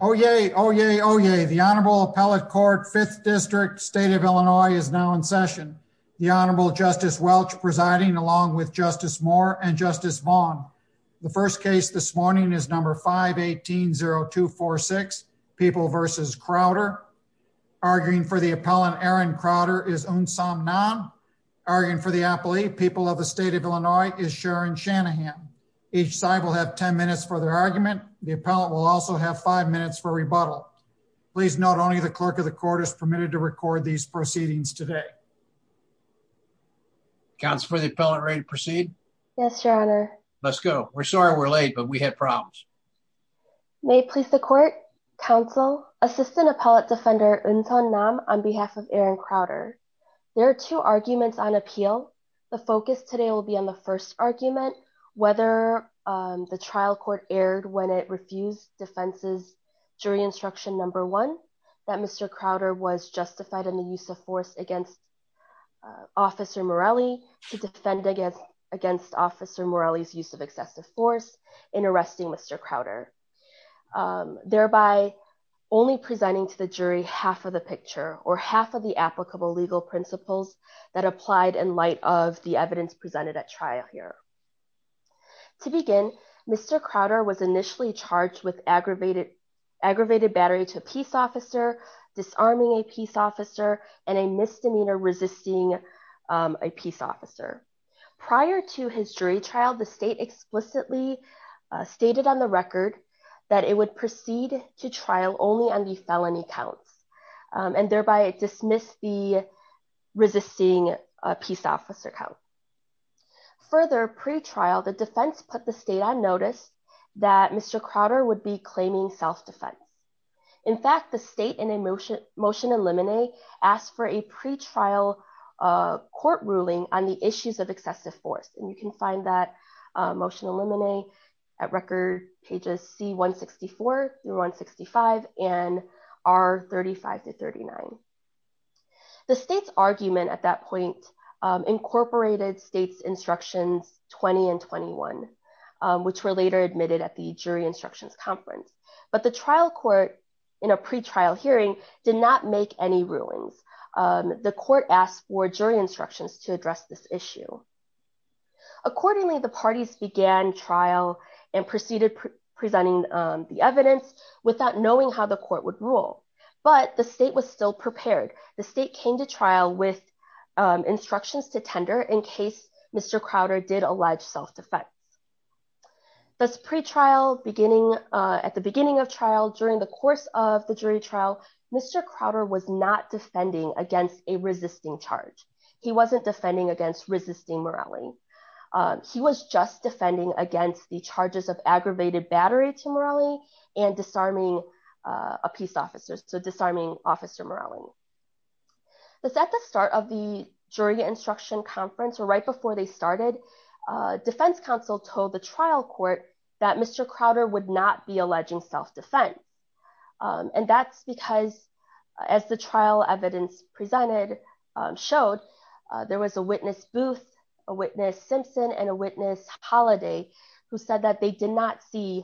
Oh, yay. Oh, yay. Oh, yay. The Honorable Appellate Court Fifth District State of Illinois is now in session. The Honorable Justice Welch presiding along with Justice Moore and Justice Vaughn. The first case this morning is number 5 18 0246 people versus Crowder arguing for the appellant. Aaron Crowder is own some non arguing for the appellee. People of the state of Illinois is Aaron Shanahan. Each side will have 10 minutes for their argument. The appellant will also have five minutes for rebuttal. Please. Not only the clerk of the court is permitted to record these proceedings today. Council for the appellant. Ready to proceed? Yes, Your Honor. Let's go. We're sorry we're late, but we had problems. May please the court Council Assistant Appellate Defender Anton Nam on behalf of Aaron Crowder. There are two arguments on appeal. The focus today will be on the first argument, whether the trial court aired when it refused defenses. Jury instruction number one that Mr Crowder was justified in the use of force against Officer Morelli to defend against against Officer Morelli's use of excessive force in arresting Mr Crowder, um, thereby only presenting to the jury half of the picture or half of the applicable legal principles that he was charged with aggravated aggravated battery to a peace officer, disarming a peace officer and a misdemeanor resisting, um, a peace officer. Prior to his jury trial, the state explicitly stated on the record that it would proceed to trial only on the felony counts, um, and thereby dismiss the resisting peace officer count. Further pre trial, the defense put the state on notice that Mr Crowder would be claiming self defense. In fact, the state in a motion motion eliminate asked for a pretrial court ruling on the issues of excessive force. And you can find that motion eliminate at record pages C 164 through 165 and R 35 to 39. The state's argument at that point, um, incorporated state's instructions 20 and 21, which were later admitted at the jury instructions conference. But the trial court in a pretrial hearing did not make any ruins. Um, the court asked for jury instructions to address this issue. Accordingly, the parties began trial and proceeded presenting the evidence without knowing how the court would rule. But the state was still prepared. The state came to trial with instructions to tender in case Mr Crowder did allege self defense. That's pretrial beginning at the beginning of trial. During the course of the jury trial, Mr Crowder was not defending against a resisting charge. He wasn't defending against resisting morality. He was just defending against the charges of aggravated battery to morally and disarming a peace officers to disarming officer morality. That's at the start of the jury instruction conference. Right before they started, defense counsel told the trial court that Mr Crowder would not be alleging self defense. Um, and that's because, as the trial evidence presented, um, showed there was a witness booth, a witness Simpson and a witness holiday who said that they did not see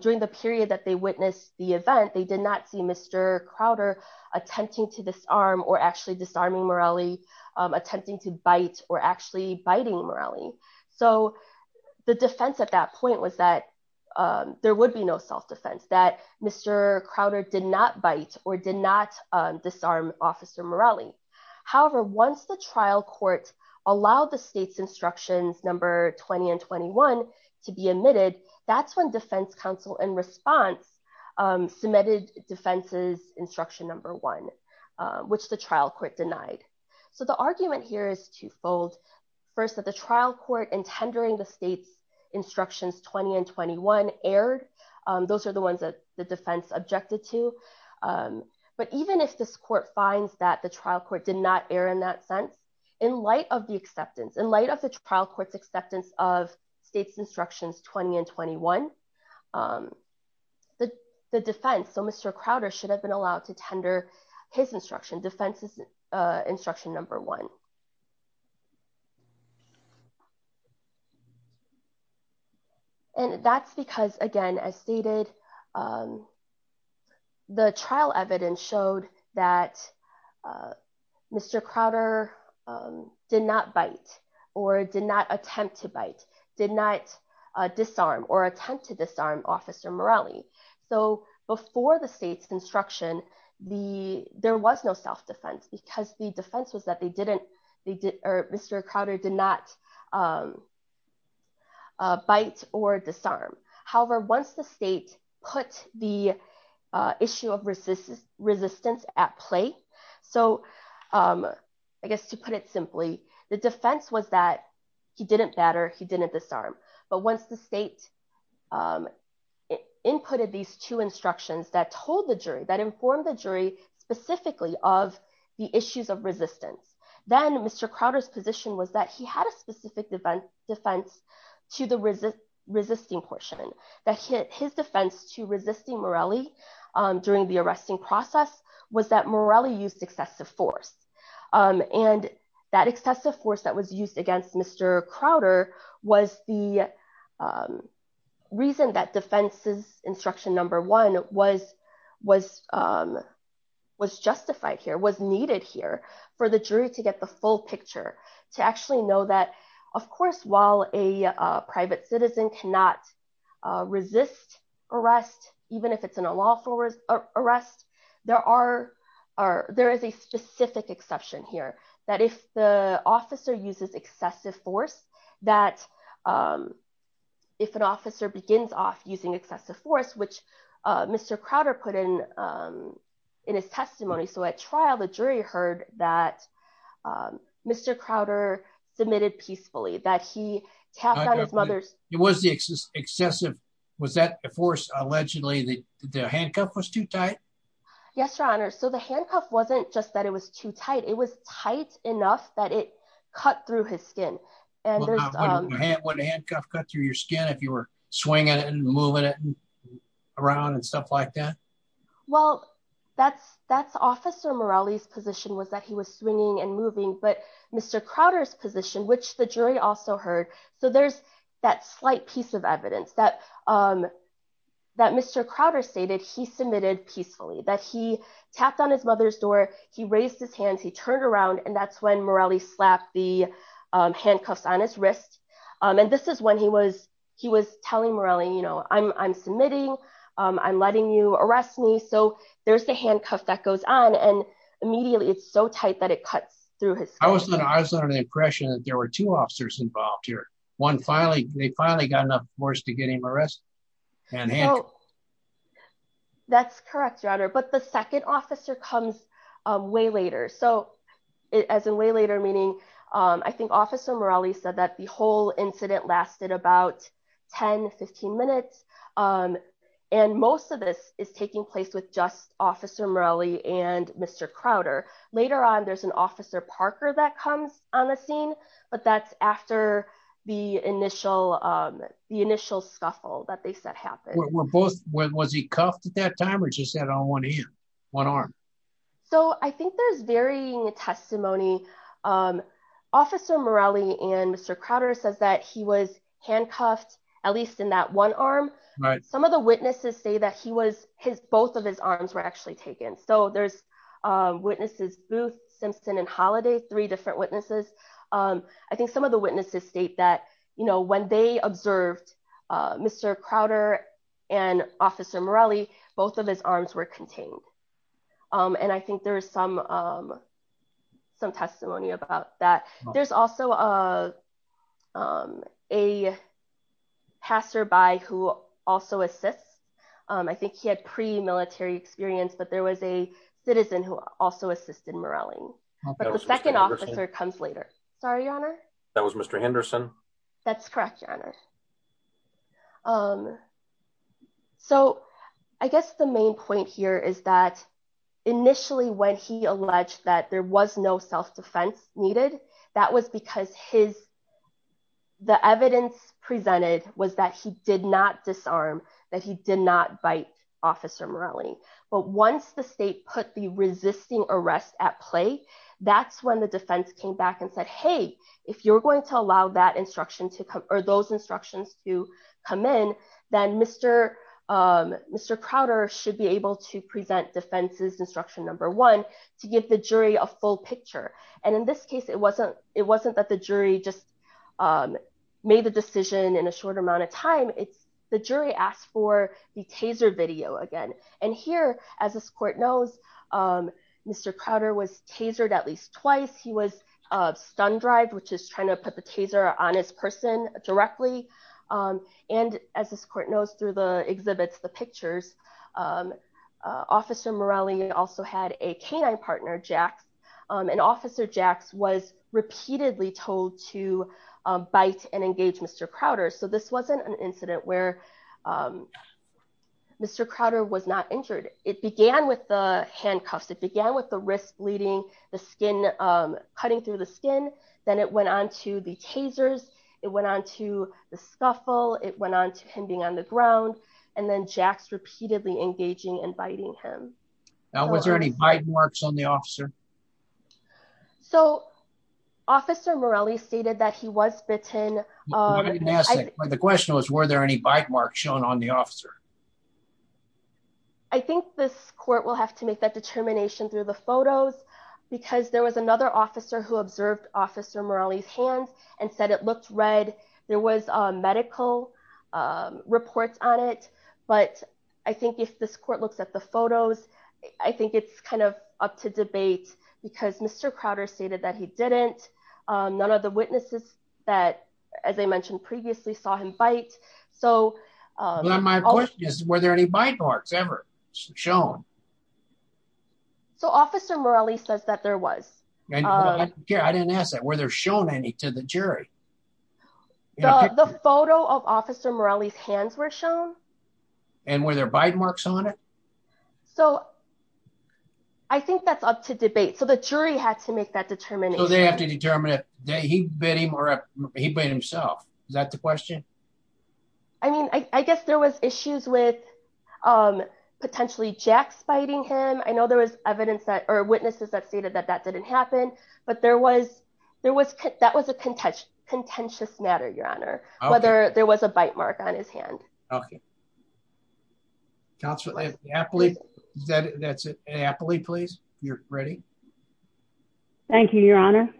during the period that they witnessed the event. They did not see Mr Crowder attempting to disarm or actually disarming morality, attempting to bite or actually biting morality. So the defense at that point was that, um, there would be no self defense that Mr Crowder did not bite or did not disarm officer morality. However, once the 20 and 21 to be admitted, that's when defense counsel in response, um, submitted defenses instruction number one, which the trial court denied. So the argument here is twofold. First of the trial court and tendering the state's instructions. 20 and 21 aired. Those are the ones that the defense objected to. Um, but even if this court finds that the trial court did not air in that sense, in light of the acceptance in light of the trial court's acceptance of state's instructions, 20 and 21, um, the defense. So Mr Crowder should have been allowed to tender his instruction defenses, uh, instruction number one. And that's because again, as stated, um, the trial evidence showed that, uh, Mr Crowder, um, did not bite or did not attempt to bite, did not disarm or attempt to disarm officer morality. So before the state's construction, the, there was no self defense because the defense was that they didn't, they did, or Mr Crowder did not, um, uh, bite or disarm. However, once the state put the, uh, issue of resistance resistance at play. So, um, I guess to put it simply, the defense was that he didn't batter, he didn't disarm, but once the state, um, inputted these two instructions that told the jury that informed the jury specifically of the issues of resistance, then Mr Crowder's position was that he had a specific defense defense to the resist resisting portion that hit his defense to resisting Morelli, um, during the arresting process was that Morelli used excessive force. Um, and that excessive force that was used against Mr Crowder was the, um, reason that defenses instruction number one was, was, um, was justified here, was needed here for the jury to get the full picture to actually know that of course, while a private citizen cannot resist arrest, even if it's in a lawful arrest, there are, are, there is a specific exception here that if the officer uses excessive force that, um, if an officer begins off using excessive force, which, uh, Mr Crowder put in, um, in his testimony. So at trial, the jury heard that, um, Mr Crowder submitted peacefully that he tapped out his mother's, it was the excessive, was that forced? Allegedly the handcuff was too tight. Yes, your honor. So the handcuff wasn't just that it was too tight. It was tight enough that it cut through his skin. And when a handcuff cut through your skin, if you were swinging it and moving it around and stuff like Well, that's, that's officer Morales position was that he was swinging and moving, but Mr. Crowder's position, which the jury also heard. So there's that slight piece of evidence that, um, that Mr. Crowder stated, he submitted peacefully that he tapped on his mother's door. He raised his hands, he turned around and that's when Morelli slapped the, um, handcuffs on his wrist. Um, and this is when he was, he was telling Morelli, you know, I'm, I'm submitting, um, I'm letting you arrest me. So there's the handcuff that goes on and immediately it's so tight that it cuts through his skin. I was under the impression that there were two officers involved here. One finally, they finally got enough force to get him arrested. That's correct, your honor. But the second officer comes way later. So as a way later, meaning, um, I think officer Morales said that the whole incident lasted about 10, 15 minutes. Um, and most of this is taking place with just officer Morelli and Mr. Crowder. Later on, there's an officer Parker that comes on the scene, but that's after the initial, um, the initial scuffle that they set happened. Was he cuffed at that time or just had on one arm? So I think there's varying testimony. Um, officer Morelli and Mr. Crowder says that he was handcuffed at least in that one arm. Some of the witnesses say that he was his, both of his arms were actually taken. So there's, um, witnesses booth, Simpson and holiday, three different witnesses. Um, I think some of the witnesses state that, you know, when they observed, uh, Mr. Crowder and officer Morelli, both of his arms were contained. Um, and I think there's some, um, some testimony about that. There's also, uh, um, a passerby who also assists. Um, I think he had pre military experience, but there was a citizen who also assisted Morelli, but the second officer comes later. Sorry, your honor. That was Mr. Henderson. That's correct. Your honor. Um, so I guess the main point here is that initially when he alleged that there was no self-defense needed, that was because his, the evidence presented was that he did not disarm, that he did not bite officer Morelli. But once the state put the resisting arrest at play, that's when the defense came back and said, Hey, if you're going to allow that instruction to come or those instructions to come in, then Mr. Um, Mr. Crowder should be able to present defenses instruction number one to give the jury a full picture. And in this case, it wasn't, it wasn't that the jury just, um, made the decision in a short amount of time. It's the jury asked for the taser video again. And here, as this court knows, um, Mr. Crowder was tasered at least twice. He was, uh, stunned drive, which is trying to put the taser on his person directly. Um, and as this court knows through the exhibits, the pictures, um, uh, officer Morelli also had a canine partner Jacks. Um, and officer Jacks was repeatedly told to, um, bite and engage Mr. Crowder. So this wasn't an incident where, um, Mr. Crowder was not injured. It began with the handcuffs. It began with the risk leading the skin, um, cutting through the skin. Then it went on to the tasers. It went on to the scuffle. It went on to him being on the ground and then Jacks repeatedly engaging and biting him. Now, was there any bite marks on the officer? So officer Morelli stated that he was bitten. Um, the question was, were there any bite marks shown on the officer? I think this court will have to make that determination through the photos because there was another officer who observed officer Morelli's hands and said it looked red. There was a medical, um, reports on it. But I think if this court looks at the photos, I think it's kind of up to debate because Mr. Crowder stated that he didn't. Um, none of the witnesses that, as I mentioned previously saw him bite. So, um, my question is, were there any bite marks ever shown? So officer Morelli says that there was. I didn't ask that. Were there shown any to the jury? The photo of officer Morelli's hands were shown. And were there bite marks on it? So I think that's up to debate. So the jury had to make that determination. They bit him or he bit himself. Is that the question? I mean, I guess there was issues with, um, potentially Jack's biting him. I know there was evidence that or witnesses that stated that that didn't happen. But there was there was that was a contentious matter, Your Honor. Whether there was a bite mark on his hand. Okay. Constantly happily. That's it. Happily, please. You're ready. Thank you, Your Honor.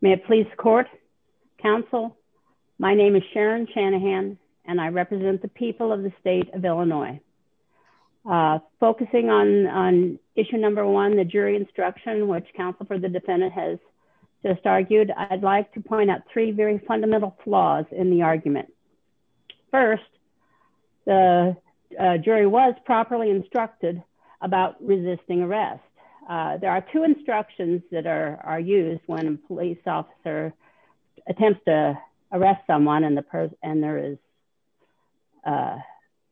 May it please court counsel. My name is Sharon Shanahan, and I represent the people of the state of Illinois, focusing on on issue number one, the jury instruction, which counsel for the defendant has just argued. I'd like to point out three very fundamental flaws in the argument. First, the jury was properly instructed about resisting arrest. There are two instructions that are used when police officer attempts to arrest someone in the purse, and there is uh,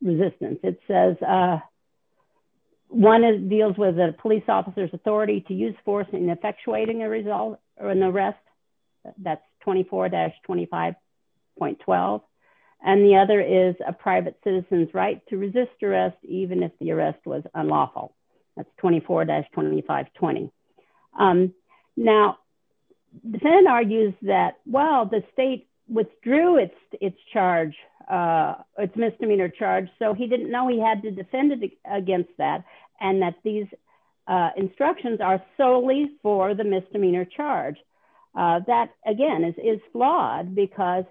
resistance. It says, uh, one deals with the police officer's authority to use force in effectuating a result or an arrest. That's 24-25.12. And the other is a private citizens right to resist arrest, even if the arrest was unlawful. That's 24-25.20. Now, defendant argues that while the state withdrew its its charge, uh, its misdemeanor charge, so he didn't know he had to defend against that and that these instructions are solely for the misdemeanor charge that again is flawed because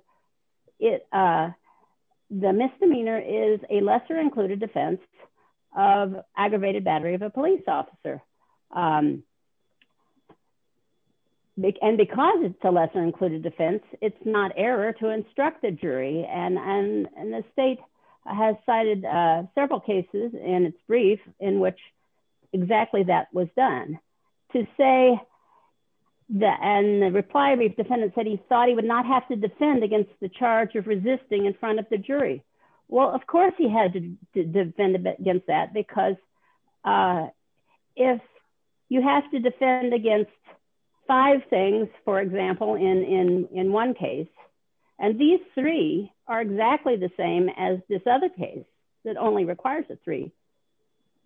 it, uh, the misdemeanor is a lesser included defense of aggravated battery of a police officer. Um, and because it's a lesser included defense, it's not error to instruct the jury. And the state has cited several cases in its brief in which exactly that was done to say that and the reply brief defendant said he thought he would not have to defend against the charge of resisting in front of the jury. Well, of course he had to defend against that because, uh, if you have to defend against five things, for example, in in in one case, and these three are exactly the same as this other case that only requires a three,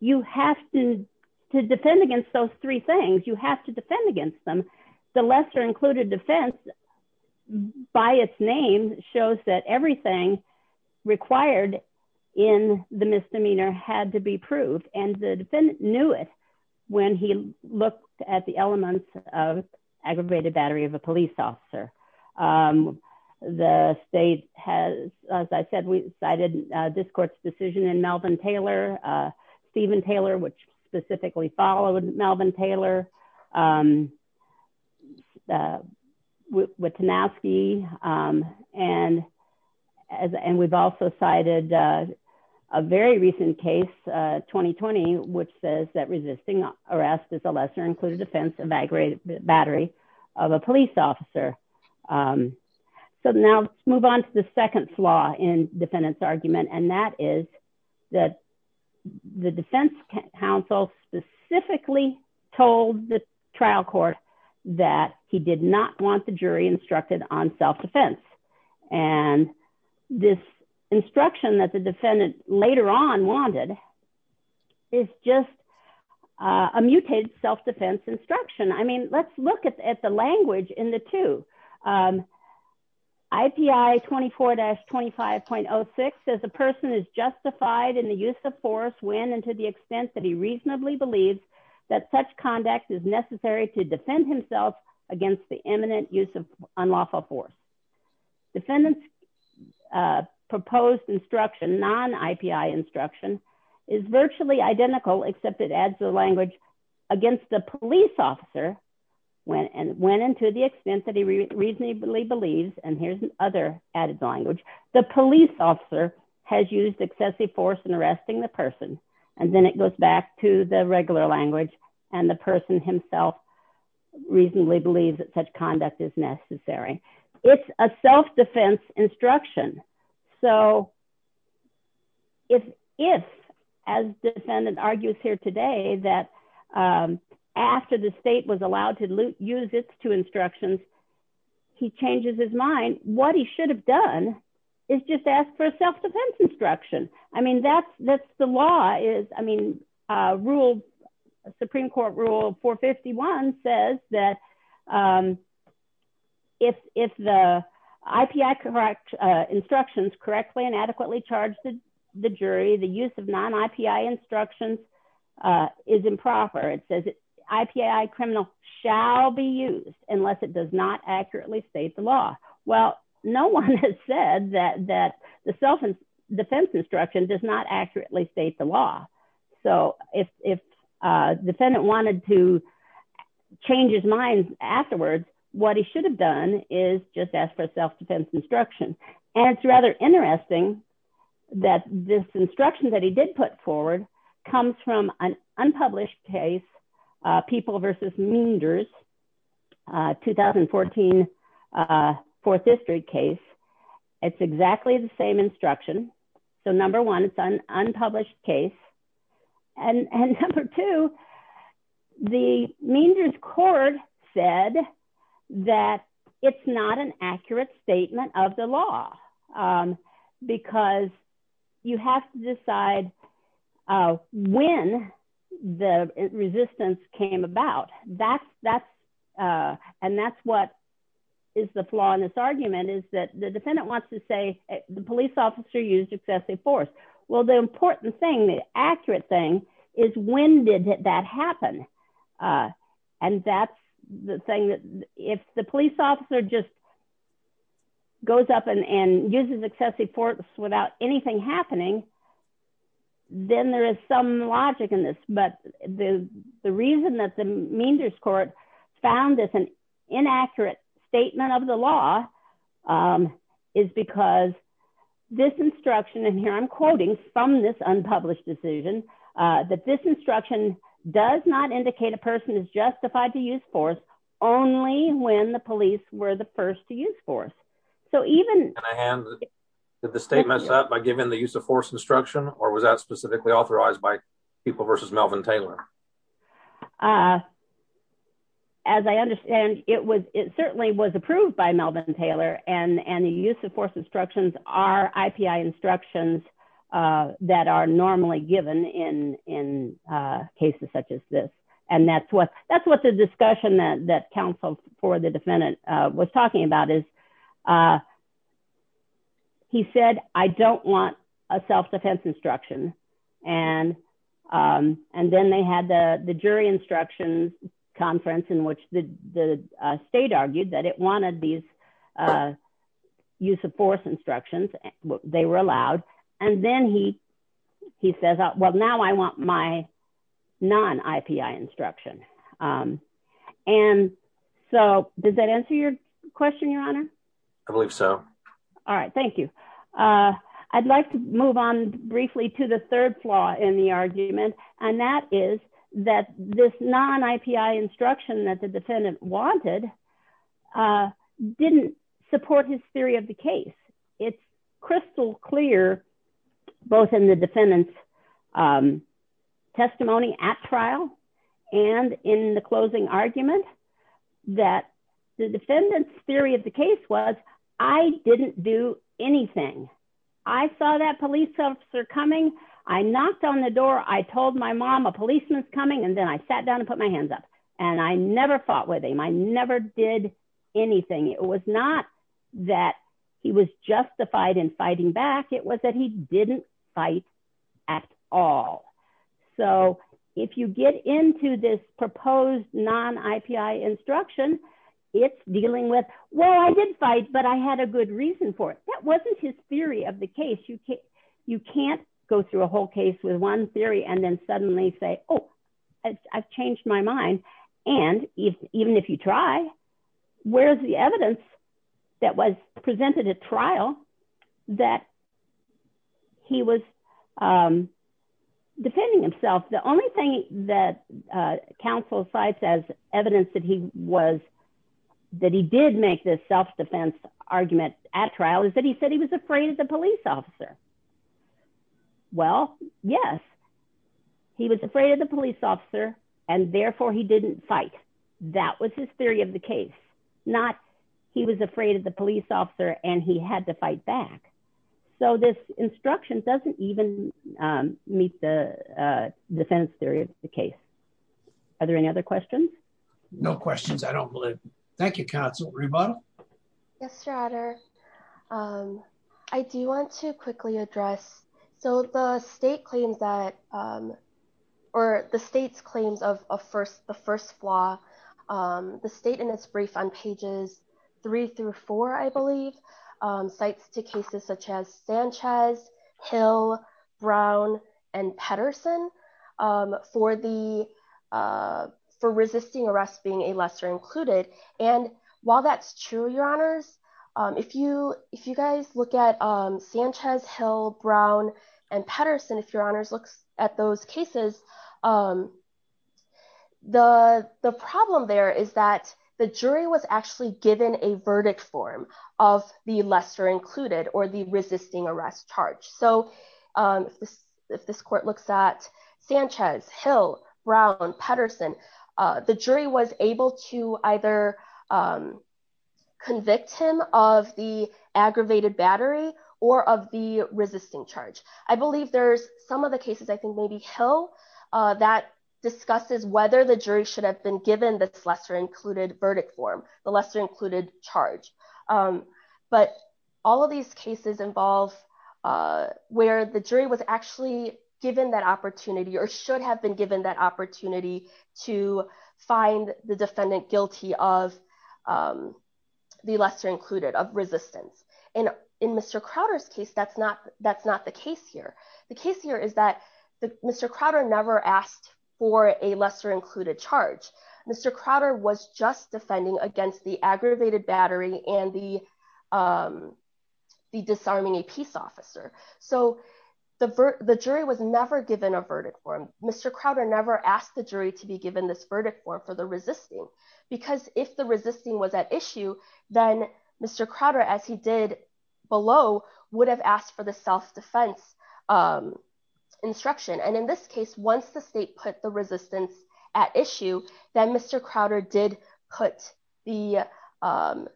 you have to defend against those three things. You have to defend against them. The lesser included defense by its name shows that everything required in the misdemeanor had to be proved. And the defendant knew it when he looked at the elements of I said we cited this court's decision in Melvin Taylor, uh, Stephen Taylor, which specifically followed Melvin Taylor. Um, uh, with the nasty. Um, and as and we've also cited, uh, a very recent case 2020 which says that resisting arrest is a lesser included defense of aggravated battery of a police officer. Um, so now let's move on to the second flaw in defendant's argument. And that is that the defense counsel specifically told the trial court that he did not want the jury instructed on self defense. And this instruction that the defendant later on wanted is just a mutated self defense instruction. I mean, let's look at the language in the two. Um, I P I 24-25.06 says a person is justified in the use of force when and to the extent that he reasonably believes that such conduct is necessary to defend himself against the imminent use of unlawful force. Defendants, uh, proposed instruction, non I P I instruction is virtually identical except it adds the language against the police officer went and went into the extent that he reasonably believes. And here's other added language. The police officer has used excessive force and arresting the person. And then it goes back to the regular language and the person himself reasonably believes that such conduct is necessary. It's a self defense instruction. So if if, as defendant argues here today that, um, after the state was allowed to use its two instructions, he changes his mind. What he should have done is just ask for self defense instruction. I mean, that's that's the law is, I 51 says that, um, if if the I P I correct instructions correctly and adequately charged the jury, the use of non I P I instructions, uh, is improper. It says it I P I criminal shall be used unless it does not accurately state the law. Well, no one has said that that the self defense instruction does not accurately state the law. So if if, uh, defendant wanted to change his mind afterwards, what he should have done is just ask for self defense instruction. And it's rather interesting that this instruction that he did put forward comes from an unpublished case. People versus meanders, uh, 2014, uh, Fourth District case. It's exactly the same instruction. So number one, it's an unpublished case. And and number two, the means is cord said that it's not an accurate statement of the law. Um, because you have to decide, uh, when the resistance came about. That's that's, uh, and that's what is the flaw in this argument is that the defendant wants to say the police officer used excessive force. Well, the important thing, the accurate thing is, when did that happen? Uh, and that's the thing that if the police officer just goes up and uses excessive force without anything happening, then there is some logic in this. But the reason that the means is court found this an inaccurate statement of the law, um, is because this instruction and here I'm quoting from this unpublished decision that this instruction does not indicate a person is justified to use force only when the police were the first to use force. So even hand the state messed up by giving the use of force instruction, or was that specifically authorized by people versus Melvin Taylor? Uh, as I understand it was, it certainly was approved by Melvin Taylor. And and the use of force instructions are I. P. I. Instructions, uh, that are normally given in in, uh, cases such as this. And that's what that's what the discussion that that counsel for the defendant was talking about is, uh, he said, I don't want a self defense instruction. And, um, and then they had the jury instruction conference in which the state argued that it wanted these, uh, use of force instructions. They were allowed. And then he he says, Well, now I want my non I. P. I. Instruction. Um, and so does that answer your question, Your Honor? I believe so. All right. Thank you. Uh, I'd like to move on briefly to the third flaw in the argument, and that is that this non I. P. I. Instruction that the defendant wanted, uh, didn't support his theory of the case. It's crystal clear, both in the defendant's, um, defendant's theory of the case was I didn't do anything. I saw that police officer coming. I knocked on the door. I told my mom a policeman's coming, and then I sat down and put my hands up, and I never fought with him. I never did anything. It was not that he was justified in fighting back. It was that he didn't fight at all. So if you get into this proposed non I. P. I. Instruction, it's dealing with. Well, I did fight, but I had a good reason for it. That wasn't his theory of the case. You can't go through a whole case with one theory and then suddenly say, Oh, I've changed my mind. And even if you try, where's the evidence that was presented a trial that he was, um, himself. The only thing that council sites as evidence that he was that he did make this self defense argument at trial is that he said he was afraid of the police officer. Well, yes, he was afraid of the police officer, and therefore he didn't fight. That was his theory of the case. Not he was afraid of the police officer, and he had to fight back. So this instruction doesn't even meet the defense theory of the case. Are there any other questions? No questions. I don't believe. Thank you. Council rebuttal. Yes, rather. Um, I do want to quickly address. So the state claims that, um, or the state's claims of first the first flaw. Um, the state in its brief on pages three through four, I believe, um, sites to cases such as Sanchez, Hill, Brown and Pedersen, um, for the, uh, for resisting arrest, being a lesser included. And while that's true, your honors, if you if you guys look at Sanchez, Hill, Brown and Pedersen, if your honors looks at those cases, um, the the problem there is that the jury was actually given a verdict form of the lesser included or the resisting arrest charge. So, um, if this court looks at Sanchez, Hill, Brown, Pedersen, the jury was able to either, um, convict him of the aggravated battery or of the resisting charge. I believe there's some of the cases, I think maybe Hill, uh, that discusses whether the jury should have been given this lesser included verdict form, the lesser included charge. Um, but all of these cases involve, uh, where the jury was actually given that opportunity or should have been given that opportunity to find the defendant guilty of, um, the lesser included of resistance. And in Mr. Crowder's case, that's not, that's not the case here. The case here is that Mr. Crowder never asked for a lesser included charge. Mr. Crowder was just defending against the aggravated battery and the, um, the disarming a peace officer. So the jury was never given a verdict for him. Mr. Crowder never asked the jury to be given this verdict for for the resisting, because if the would have asked for the self-defense, um, instruction. And in this case, once the state put the resistance at issue, then Mr. Crowder did put the, um,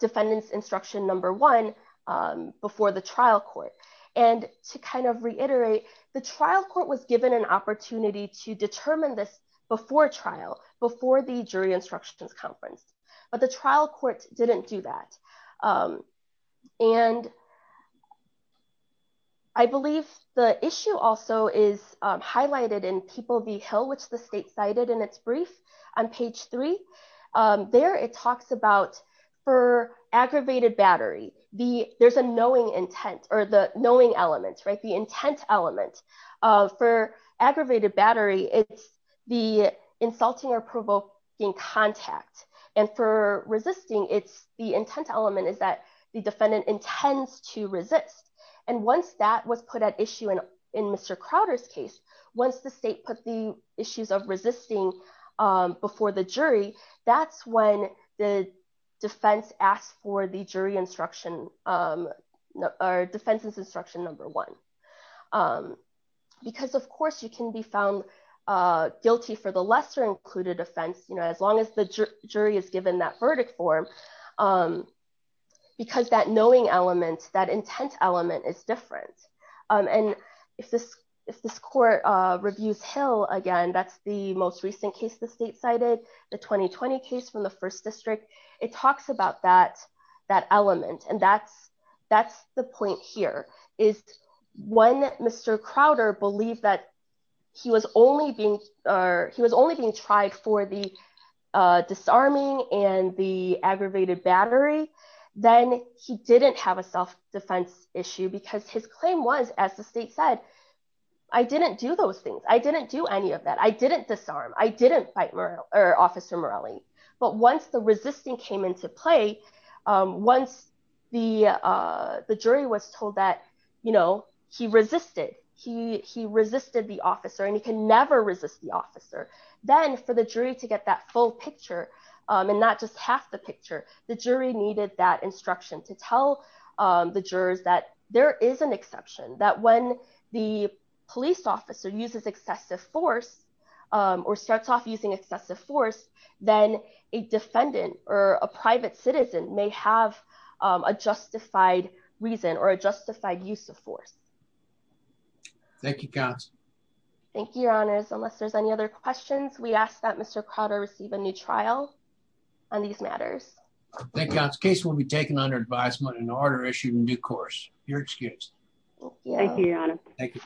defendant's instruction number one, um, before the trial court. And to kind of reiterate, the trial court was given an opportunity to determine this before trial, before the jury instructions conference, but the trial court didn't do that. Um, and I believe the issue also is, um, highlighted in People v. Hill, which the state cited in its brief on page three. Um, there it talks about for aggravated battery, the, there's a knowing intent or the knowing elements, right? The intent element, uh, for aggravated battery, it's the insulting or the intent element is that the defendant intends to resist. And once that was put at issue in, in Mr. Crowder's case, once the state put the issues of resisting, um, before the jury, that's when the defense asked for the jury instruction, um, or defense's instruction number one. Um, because of course you can be found, uh, guilty for the lesser included offense. You know, as long as the jury is given that verdict form, um, because that knowing element, that intent element is different. Um, and if this, if this court, uh, reviews Hill again, that's the most recent case, the state cited the 2020 case from the first district. It talks about that, that element. And that's, that's the point here is when Mr. Crowder believed that he was only being, or he was only being tried for the, uh, disarming and the aggravated battery, then he didn't have a self defense issue because his claim was, as the state said, I didn't do those things. I didn't do any of that. I didn't disarm. I didn't fight Murrell or officer Morelli. But once the resisting came into play, um, once the, uh, the jury was told that, you know, he resisted, he, he resisted the officer and he can never resist the officer then for the jury to get that full picture. Um, and not just half the picture, the jury needed that instruction to tell, um, the jurors that there is an exception that when the police officer uses excessive force, um, or starts off using excessive force, then a defendant or a private citizen may have, um, a justified reason or a justified use of force. Thank you, guys. Thank you, Your Honor. Unless there's any other questions, we ask that Mr Crowder receive a new trial on these matters. Thank God's case will be taken under advisement in order issued in due course. Your excuse. Thank you, Your Honor. Thank you.